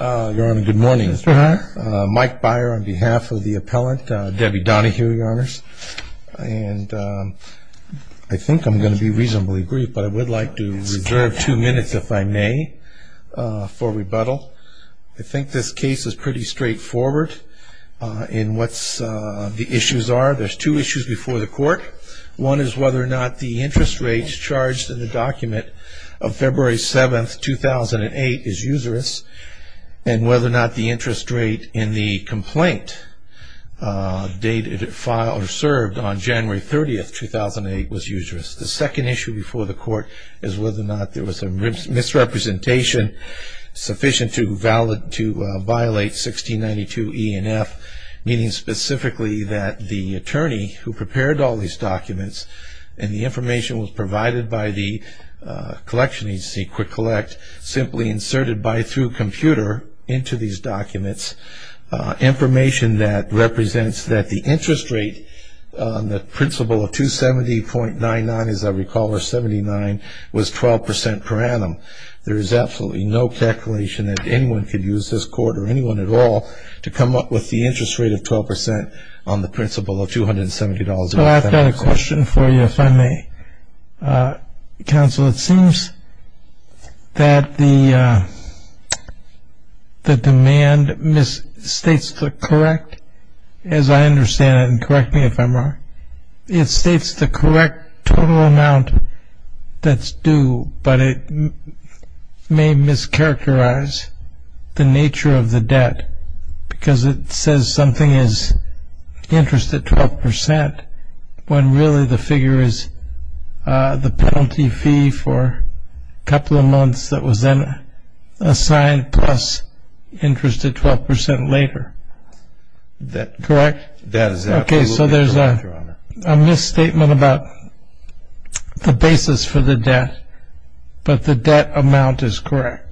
Your Honor, good morning. Mike Beyer on behalf of the appellant, Debbie Donohue, Your Honor. And I think I'm going to be reasonably brief, but I would like to reserve two minutes, if I may, for rebuttal. I think this case is pretty straightforward in what the issues are. There's two issues before the court. One is whether or not the interest rate charged in the document of February 7, 2008, is usurious, and whether or not the interest rate in the complaint dated or served on January 30, 2008, was usurious. The second issue before the court is whether or not there was a misrepresentation sufficient to violate 1692 E and F, meaning specifically that the attorney who prepared all these documents, and the information was provided by the collection agency, Quick Collect, simply inserted through a computer into these documents, information that represents that the interest rate on the principle of 270.99, as I recall, or 79, was 12% per annum. There is absolutely no calculation that anyone could use this court, or anyone at all, to come up with the interest rate of 12% on the principle of $270.99. Well, I've got a question for you, if I may. Counsel, it seems that the demand misstates the correct, as I understand it, and correct me if I'm wrong, it states the correct total amount that's due, but it may mischaracterize the nature of the debt, because it says something is interest at 12%, when really the figure is the penalty fee for a couple of months that was then assigned plus interest at 12% later. Correct? That is absolutely correct, Your Honor. Okay, so there's a misstatement about the basis for the debt, but the debt amount is correct.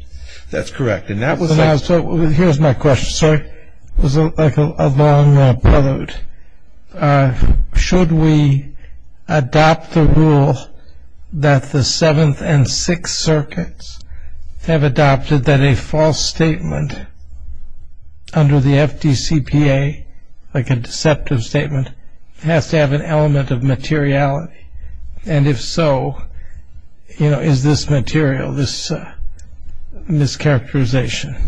That's correct, and that was like... Now, so here's my question. Sorry, it was like a long payload. Should we adopt the rule that the Seventh and Sixth Circuits have adopted that a false statement under the FDCPA, like a deceptive statement, has to have an element of materiality? And if so, you know, is this material, this mischaracterization?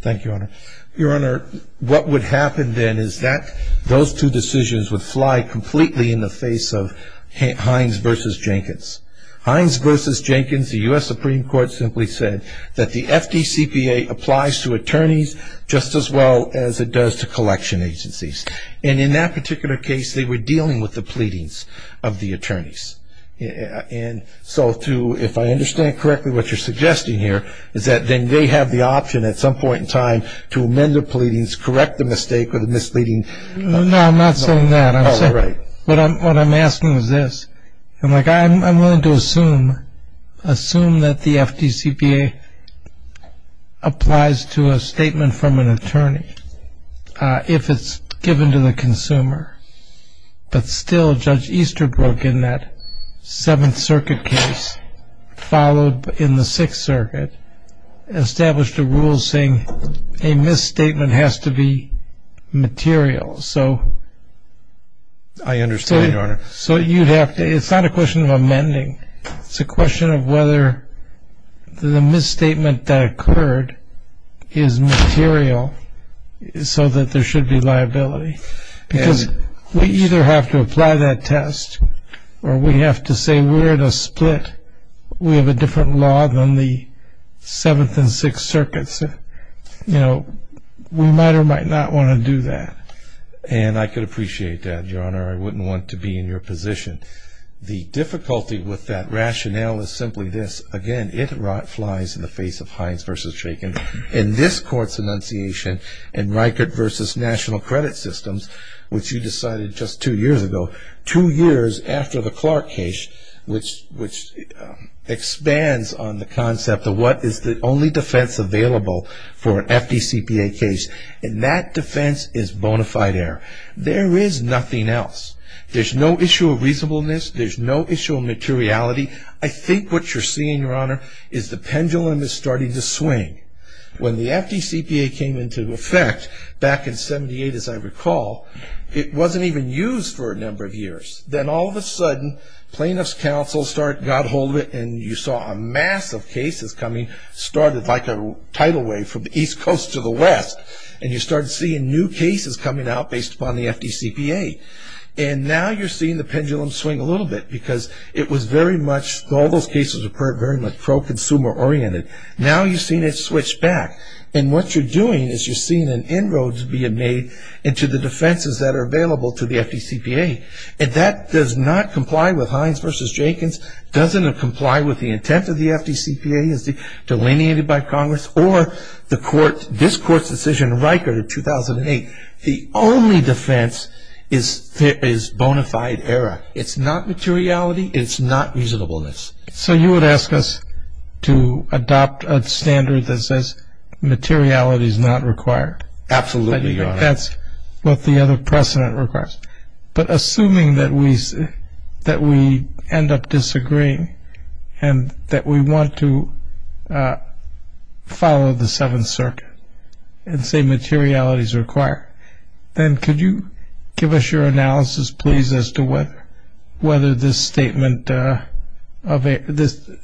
Thank you, Your Honor. Your Honor, what would happen then is that those two decisions would fly completely in the face of Hines v. Jenkins. Hines v. Jenkins, the U.S. Supreme Court simply said that the FDCPA applies to attorneys just as well as it does to collection agencies. And in that particular case, they were dealing with the pleadings of the attorneys. And so to, if I understand correctly what you're suggesting here, is that then they have the option at some point in time to amend their pleadings, correct the mistake or the misleading... No, I'm not saying that. Oh, right. What I'm asking is this. I'm willing to assume that the FDCPA applies to a statement from an attorney if it's given to the consumer. But still, Judge Easterbrook in that Seventh Circuit case, followed in the Sixth Circuit, established a rule saying a misstatement has to be material. I understand, Your Honor. So you'd have to, it's not a question of amending. It's a question of whether the misstatement that occurred is material so that there should be liability. Because we either have to apply that test or we have to say we're in a split, we have a different law than the Seventh and Sixth Circuits. You know, we might or might not want to do that. And I could appreciate that, Your Honor. I wouldn't want to be in your position. The difficulty with that rationale is simply this. Again, it flies in the face of Hines v. Shakin. In this Court's enunciation in Reichert v. National Credit Systems, which you decided just two years ago, two years after the Clark case, which expands on the concept of what is the only defense available for an FDCPA case. And that defense is bona fide error. There is nothing else. There's no issue of reasonableness. There's no issue of materiality. I think what you're seeing, Your Honor, is the pendulum is starting to swing. When the FDCPA came into effect back in 78, as I recall, it wasn't even used for a number of years. Then all of a sudden plaintiff's counsel got a hold of it, and you saw a mass of cases coming, and it started like a tidal wave from the East Coast to the West. And you started seeing new cases coming out based upon the FDCPA. And now you're seeing the pendulum swing a little bit because it was very much, all those cases were very much pro-consumer oriented. Now you're seeing it switch back. And what you're doing is you're seeing an inroad being made into the defenses that are available to the FDCPA. And that does not comply with Hines v. Shakin's, doesn't comply with the intent of the FDCPA as delineated by Congress, or this Court's decision in Riker in 2008. The only defense is bona fide error. It's not materiality. It's not reasonableness. So you would ask us to adopt a standard that says materiality is not required? Absolutely, Your Honor. That's what the other precedent requires. But assuming that we end up disagreeing and that we want to follow the Seventh Circuit and say materiality is required, then could you give us your analysis, please, as to whether this statement, the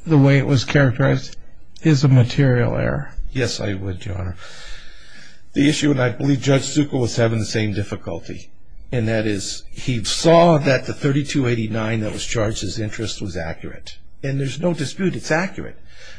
way it was characterized, is a material error? Yes, I would, Your Honor. The issue, and I believe Judge Zuko was having the same difficulty, and that is he saw that the $32.89 that was charged as interest was accurate. And there's no dispute, it's accurate.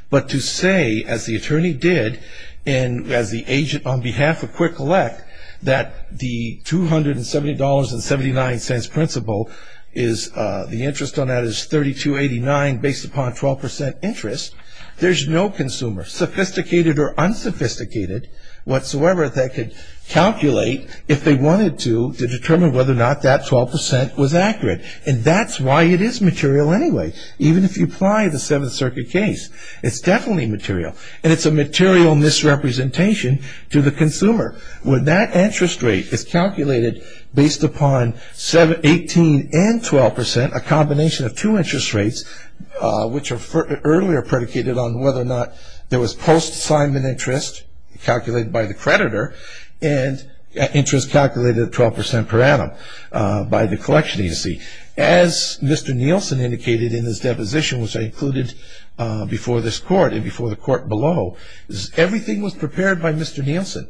But to say, as the attorney did, and as the agent on behalf of Quirk-Elec, that the $270.79 principle, the interest on that is $32.89 based upon 12% interest, there's no consumer, sophisticated or unsophisticated whatsoever, that could calculate, if they wanted to, to determine whether or not that 12% was accurate. And that's why it is material anyway. Even if you apply the Seventh Circuit case, it's definitely material. And it's a material misrepresentation to the consumer. When that interest rate is calculated based upon 18% and 12%, and a combination of two interest rates, which are earlier predicated on whether or not there was post-assignment interest, calculated by the creditor, and interest calculated at 12% per annum by the collection agency. As Mr. Nielsen indicated in his deposition, which I included before this court and before the court below, everything was prepared by Mr. Nielsen.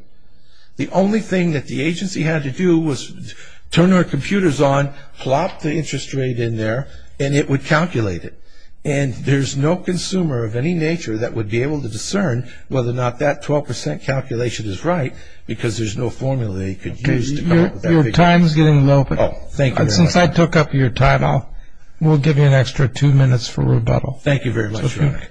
The only thing that the agency had to do was turn our computers on, plop the interest rate in there, and it would calculate it. And there's no consumer of any nature that would be able to discern whether or not that 12% calculation is right, because there's no formula they could use to come up with that figure. Your time is getting low, but since I took up your time, we'll give you an extra two minutes for rebuttal. Thank you very much, Your Honor.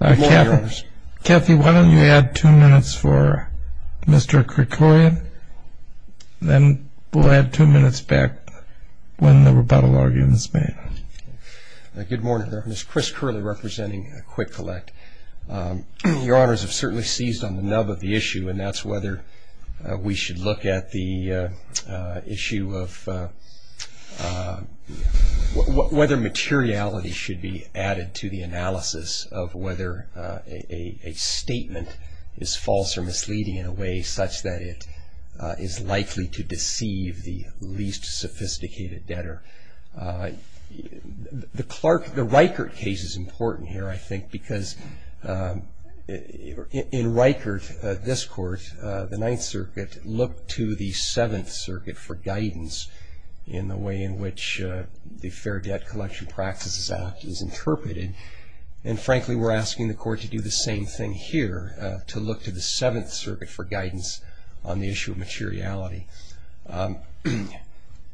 Good morning, Your Honors. Kathy, why don't you add two minutes for Mr. Krikorian, then we'll add two minutes back when the rebuttal argument is made. Good morning. I'm Chris Curley, representing Quick Collect. Your Honors have certainly seized on the nub of the issue, and that's whether we should look at the issue of whether materiality should be added to the analysis of whether a statement is false or misleading in a way such that it is likely to deceive the least sophisticated debtor. The Reichert case is important here, I think, because in Reichert, this Court, the Ninth Circuit looked to the Seventh Circuit for guidance in the way in which the Fair Debt Collection Practices Act is interpreted, and frankly, we're asking the Court to do the same thing here, to look to the Seventh Circuit for guidance on the issue of materiality.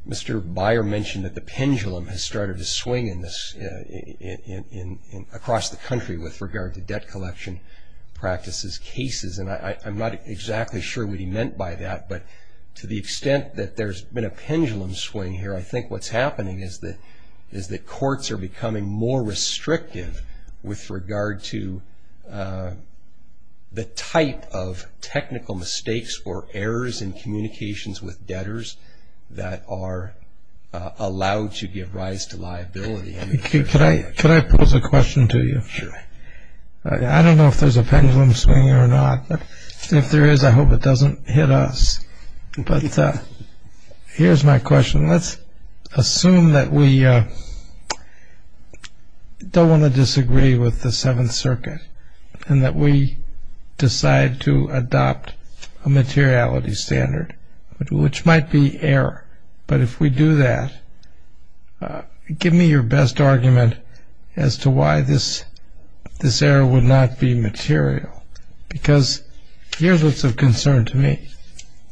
Mr. Beyer mentioned that the pendulum has started to swing across the country with regard to debt collection practices cases, and I'm not exactly sure what he meant by that, but to the extent that there's been a pendulum swing here, I think what's happening is that courts are becoming more restrictive with regard to the type of technical mistakes or errors in communications with debtors that are allowed to give rise to liability. Could I pose a question to you? Sure. I don't know if there's a pendulum swing or not, but if there is, I hope it doesn't hit us. But here's my question. Let's assume that we don't want to disagree with the Seventh Circuit and that we decide to adopt a materiality standard, which might be error, but if we do that, give me your best argument as to why this error would not be material, because here's what's of concern to me.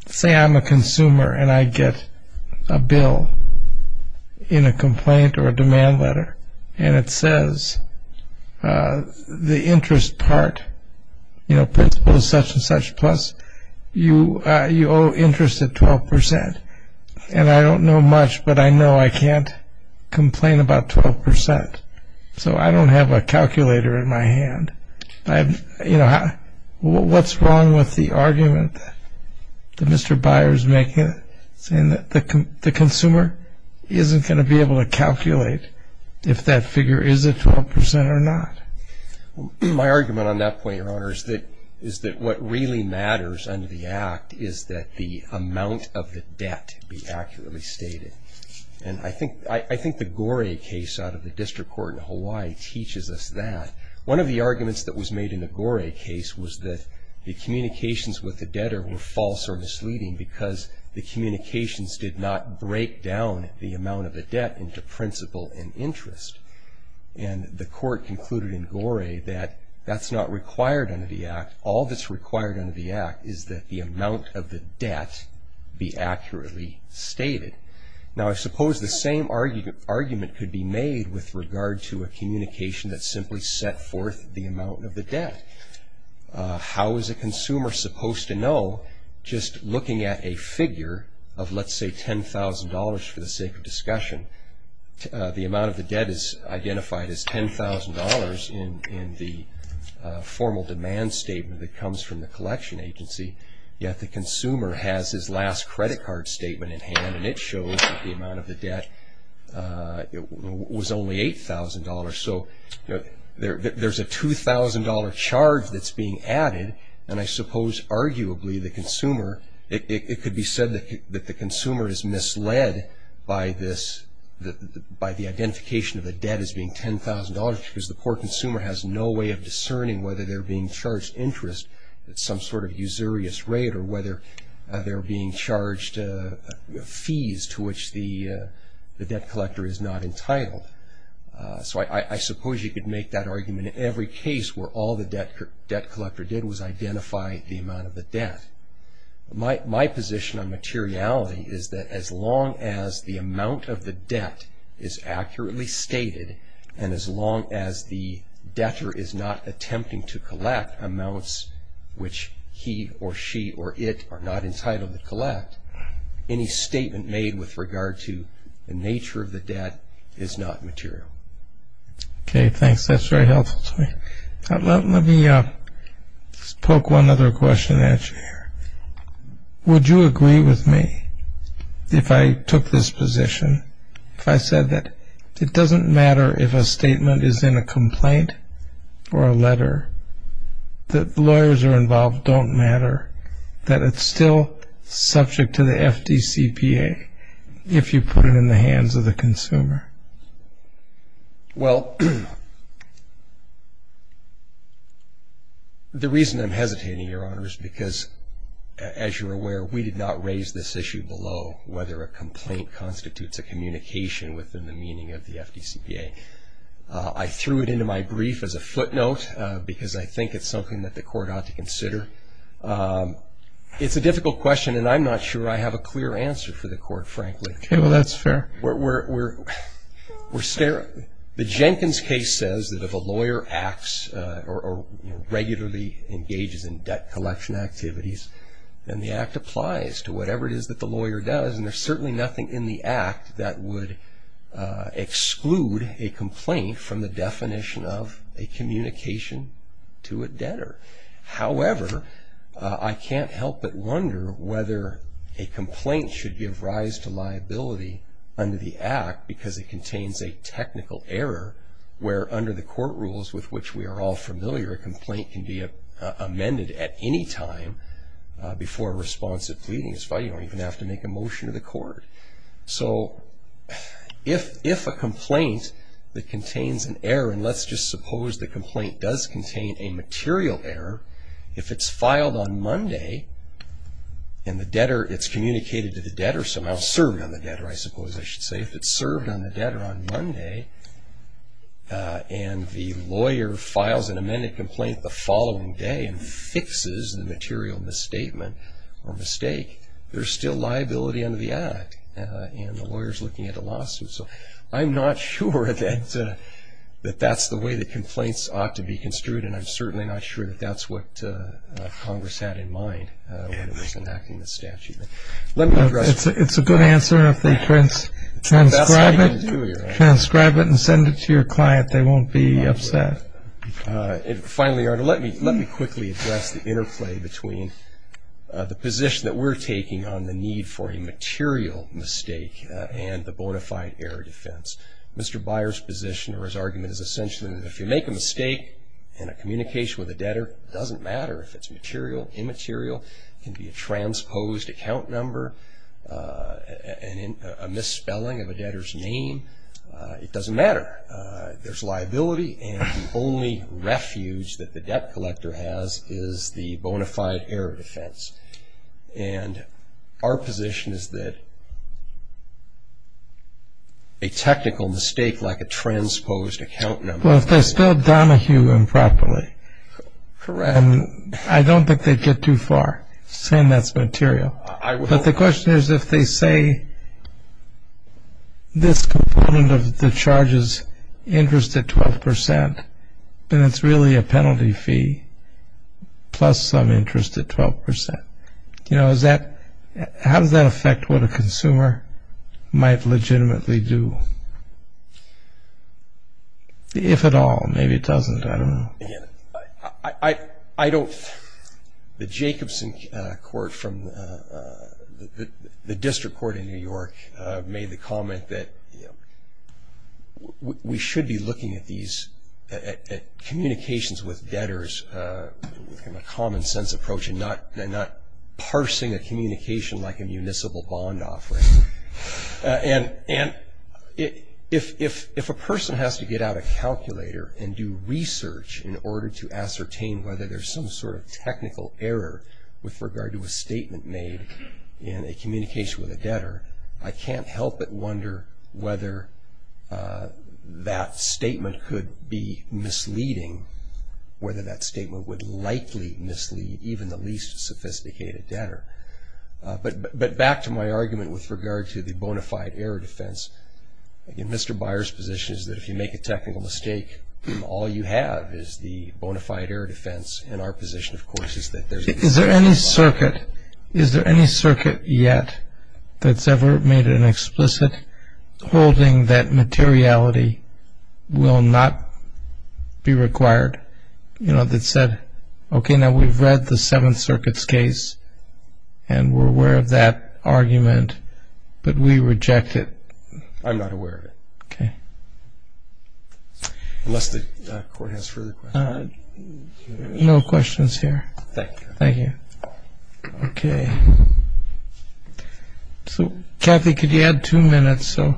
Say I'm a consumer and I get a bill in a complaint or a demand letter, and it says the interest part, you know, principal is such and such, plus you owe interest at 12%, and I don't know much, but I know I can't complain about 12%. So I don't have a calculator in my hand. You know, what's wrong with the argument that Mr. Byer is making, saying that the consumer isn't going to be able to calculate if that figure is at 12% or not? My argument on that point, Your Honor, is that what really matters under the Act is that the amount of the debt be accurately stated. And I think the Goree case out of the district court in Hawaii teaches us that. One of the arguments that was made in the Goree case was that the communications with the debtor were false or misleading because the communications did not break down the amount of the debt into principal and interest. And the court concluded in Goree that that's not required under the Act. All that's required under the Act is that the amount of the debt be accurately stated. Now, I suppose the same argument could be made with regard to a communication that simply set forth the amount of the debt. How is a consumer supposed to know just looking at a figure of, let's say, $10,000, for the sake of discussion, the amount of the debt is identified as $10,000 in the formal demand statement that comes from the collection agency, yet the consumer has his last credit card statement in hand, and it shows that the amount of the debt was only $8,000. So there's a $2,000 charge that's being added, and I suppose arguably it could be said that the consumer is misled by the identification of the debt as being $10,000 because the poor consumer has no way of discerning whether they're being charged interest at some sort of usurious rate or whether they're being charged fees to which the debt collector is not entitled. So I suppose you could make that argument in every case where all the debt collector did was identify the amount of the debt. My position on materiality is that as long as the amount of the debt is accurately stated and as long as the debtor is not attempting to collect amounts which he or she or it are not entitled to collect, any statement made with regard to the nature of the debt is not material. Okay, thanks. That's very helpful to me. Let me just poke one other question at you here. Would you agree with me if I took this position, if I said that it doesn't matter if a statement is in a complaint or a letter, that the lawyers are involved don't matter, that it's still subject to the FDCPA if you put it in the hands of the consumer? Well, the reason I'm hesitating, Your Honor, is because, as you're aware, we did not raise this issue below whether a complaint constitutes a communication within the meaning of the FDCPA. I threw it into my brief as a footnote because I think it's something that the Court ought to consider. It's a difficult question, and I'm not sure I have a clear answer for the Court, frankly. Well, that's fair. The Jenkins case says that if a lawyer acts or regularly engages in debt collection activities, then the act applies to whatever it is that the lawyer does, and there's certainly nothing in the act that would exclude a complaint from the definition of a communication to a debtor. However, I can't help but wonder whether a complaint should give rise to liability under the act because it contains a technical error where, under the court rules with which we are all familiar, a complaint can be amended at any time before a response of pleading is filed. You don't even have to make a motion to the court. So if a complaint that contains an error, and let's just suppose the complaint does contain a material error, if it's filed on Monday and it's communicated to the debtor, somehow served on the debtor, I suppose I should say, if it's served on the debtor on Monday and the lawyer files an amended complaint the following day and fixes the material misstatement or mistake, there's still liability under the act, and the lawyer's looking at a lawsuit. So I'm not sure that that's the way that complaints ought to be construed, and I'm certainly not sure that that's what Congress had in mind when it was enacting the statute. It's a good answer. If they transcribe it and send it to your client, they won't be upset. Finally, Your Honor, let me quickly address the interplay between the position that we're taking on the need for a material mistake and the bona fide error defense. Mr. Byer's position or his argument is essentially that if you make a mistake in a communication with a debtor, it doesn't matter if it's material, immaterial, it can be a transposed account number, a misspelling of a debtor's name, it doesn't matter. There's liability, and the only refuge that the debt collector has is the bona fide error defense. And our position is that a technical mistake like a transposed account number. Well, if they spelled Donahue improperly, I don't think they'd get too far saying that's material. But the question is if they say this component of the charge is interest at 12 percent, then it's really a penalty fee plus some interest at 12 percent. You know, how does that affect what a consumer might legitimately do? If at all. Maybe it doesn't. I don't know. I don't. The Jacobson court from the district court in New York made the comment that we should be looking at these at communications with debtors in a common sense approach and not parsing a communication like a municipal bond offering. And if a person has to get out a calculator and do research in order to ascertain whether there's some sort of technical error with regard to a statement made in a communication with a debtor, I can't help but wonder whether that statement could be misleading, whether that statement would likely mislead even the least sophisticated debtor. But back to my argument with regard to the bona fide error defense, Mr. Byers' position is that if you make a technical mistake, all you have is the bona fide error defense. And our position, of course, is that there's a... Is there any circuit yet that's ever made an explicit holding that materiality will not be required? You know, that said, okay, now we've read the Seventh Circuit's case and we're aware of that argument, but we reject it. I'm not aware of it. Okay. Unless the court has further questions. No questions here. Thank you. Thank you. Okay. So, Kathy, could you add two minutes? So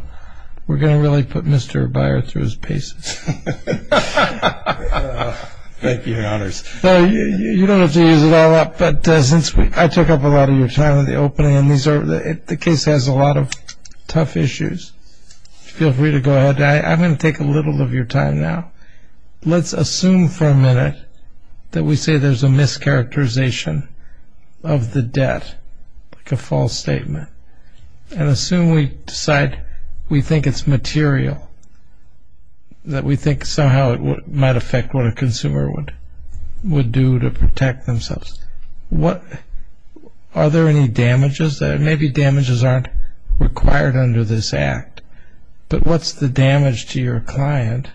we're going to really put Mr. Byers through his paces. Thank you, Your Honors. You don't have to use it all up, but since I took up a lot of your time in the opening, and the case has a lot of tough issues, feel free to go ahead. I'm going to take a little of your time now. Let's assume for a minute that we say there's a mischaracterization of the debt, like a false statement, and assume we decide we think it's material, that we think somehow it might affect what a consumer would do to protect themselves. Are there any damages? Maybe damages aren't required under this act. But what's the damage to your client,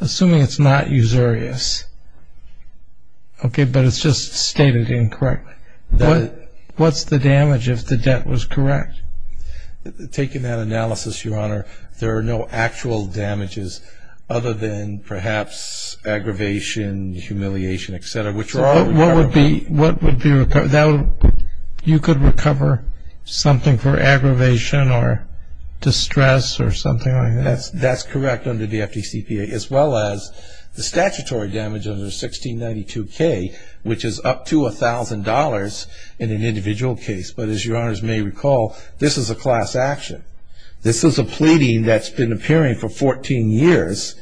assuming it's not usurious? Okay, but it's just stated incorrectly. What's the damage if the debt was correct? Taking that analysis, Your Honor, there are no actual damages other than perhaps aggravation, humiliation, et cetera, which are all recoverable. You could recover something for aggravation or distress or something like that? That's correct under the FDCPA, as well as the statutory damage under 1692K, which is up to $1,000 in an individual case. But as Your Honors may recall, this is a class action. This is a pleading that's been appearing for 14 years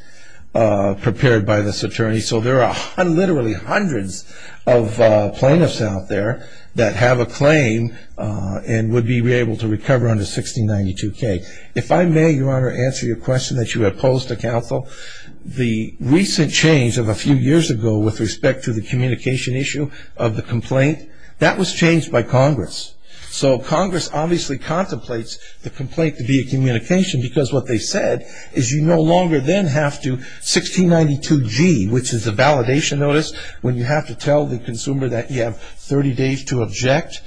prepared by this attorney. So there are literally hundreds of plaintiffs out there that have a claim and would be able to recover under 1692K. If I may, Your Honor, answer your question that you have posed to counsel. The recent change of a few years ago with respect to the communication issue of the complaint, that was changed by Congress. So Congress obviously contemplates the complaint to be a communication because what they said is you no longer then have to 1692G, which is a validation notice, when you have to tell the consumer that you have 30 days to object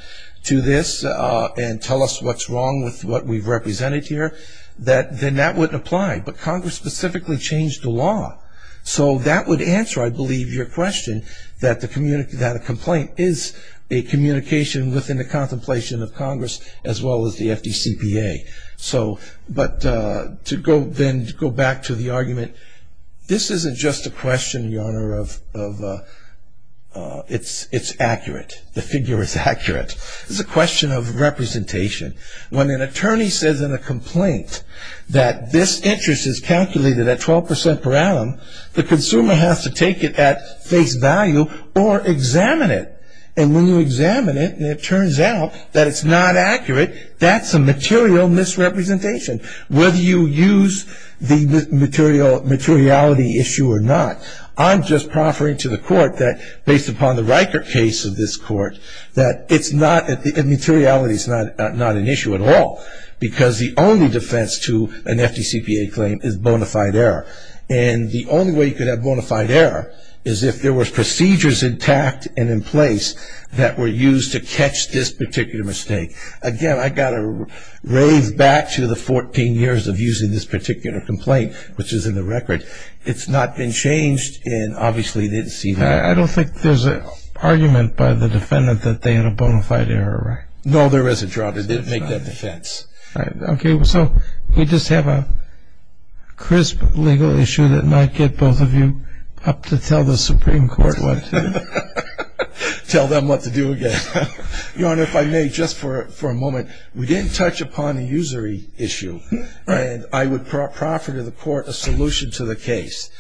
to this and tell us what's wrong with what we've represented here, then that wouldn't apply. But Congress specifically changed the law. So that would answer, I believe, your question, that a complaint is a communication within the contemplation of Congress as well as the FDCPA. But to then go back to the argument, this isn't just a question, Your Honor, of it's accurate. The figure is accurate. It's a question of representation. When an attorney says in a complaint that this interest is calculated at 12% per annum, the consumer has to take it at face value or examine it. And when you examine it and it turns out that it's not accurate, that's a material misrepresentation, whether you use the materiality issue or not. I'm just proffering to the Court that based upon the Riker case of this Court, that it's not the materiality is not an issue at all because the only defense to an FDCPA claim is bona fide error. And the only way you could have bona fide error is if there was procedures intact and in place that were used to catch this particular mistake. Again, I've got to rave back to the 14 years of using this particular complaint, which is in the record. It's not been changed, and obviously they didn't see that. I don't think there's an argument by the defendant that they had a bona fide error, right? No, there isn't, Your Honor. They didn't make that defense. Okay, so we just have a crisp legal issue that might get both of you up to tell the Supreme Court what to do. Tell them what to do again. Your Honor, if I may, just for a moment, we didn't touch upon a usury issue. And I would proffer to the Court a solution to the case.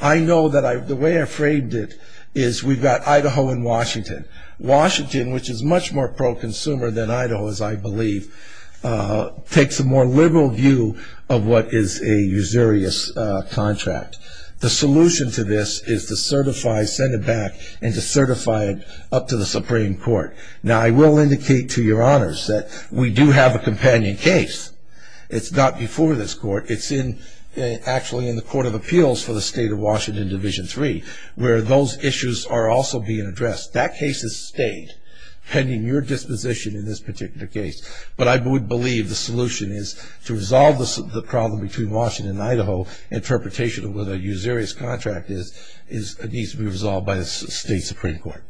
I know that the way I framed it is we've got Idaho and Washington. Washington, which is much more pro-consumer than Idaho, as I believe, takes a more liberal view of what is a usurious contract. The solution to this is to certify, send it back, and to certify it up to the Supreme Court. Now, I will indicate to Your Honors that we do have a companion case. It's not before this Court. It's actually in the Court of Appeals for the State of Washington, Division III, where those issues are also being addressed. That case has stayed, pending your disposition in this particular case. But I would believe the solution is to resolve the problem between Washington and Idaho, interpretation of what a usurious contract is, needs to be resolved by the State Supreme Court.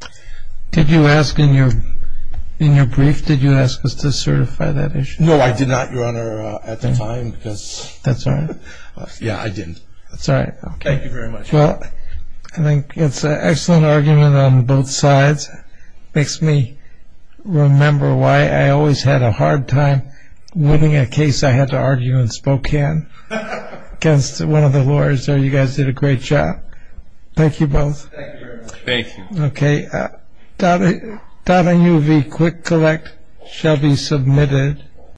Did you ask in your brief, did you ask us to certify that issue? No, I did not, Your Honor, at the time. That's all right. Yeah, I didn't. That's all right. Thank you very much. Well, I think it's an excellent argument on both sides. It makes me remember why I always had a hard time winning a case I had to argue in Spokane against one of the lawyers there. You guys did a great job. Thank you both. Thank you, Your Honor. Thank you. Okay. Okay. .UV Quick Collect shall be submitted.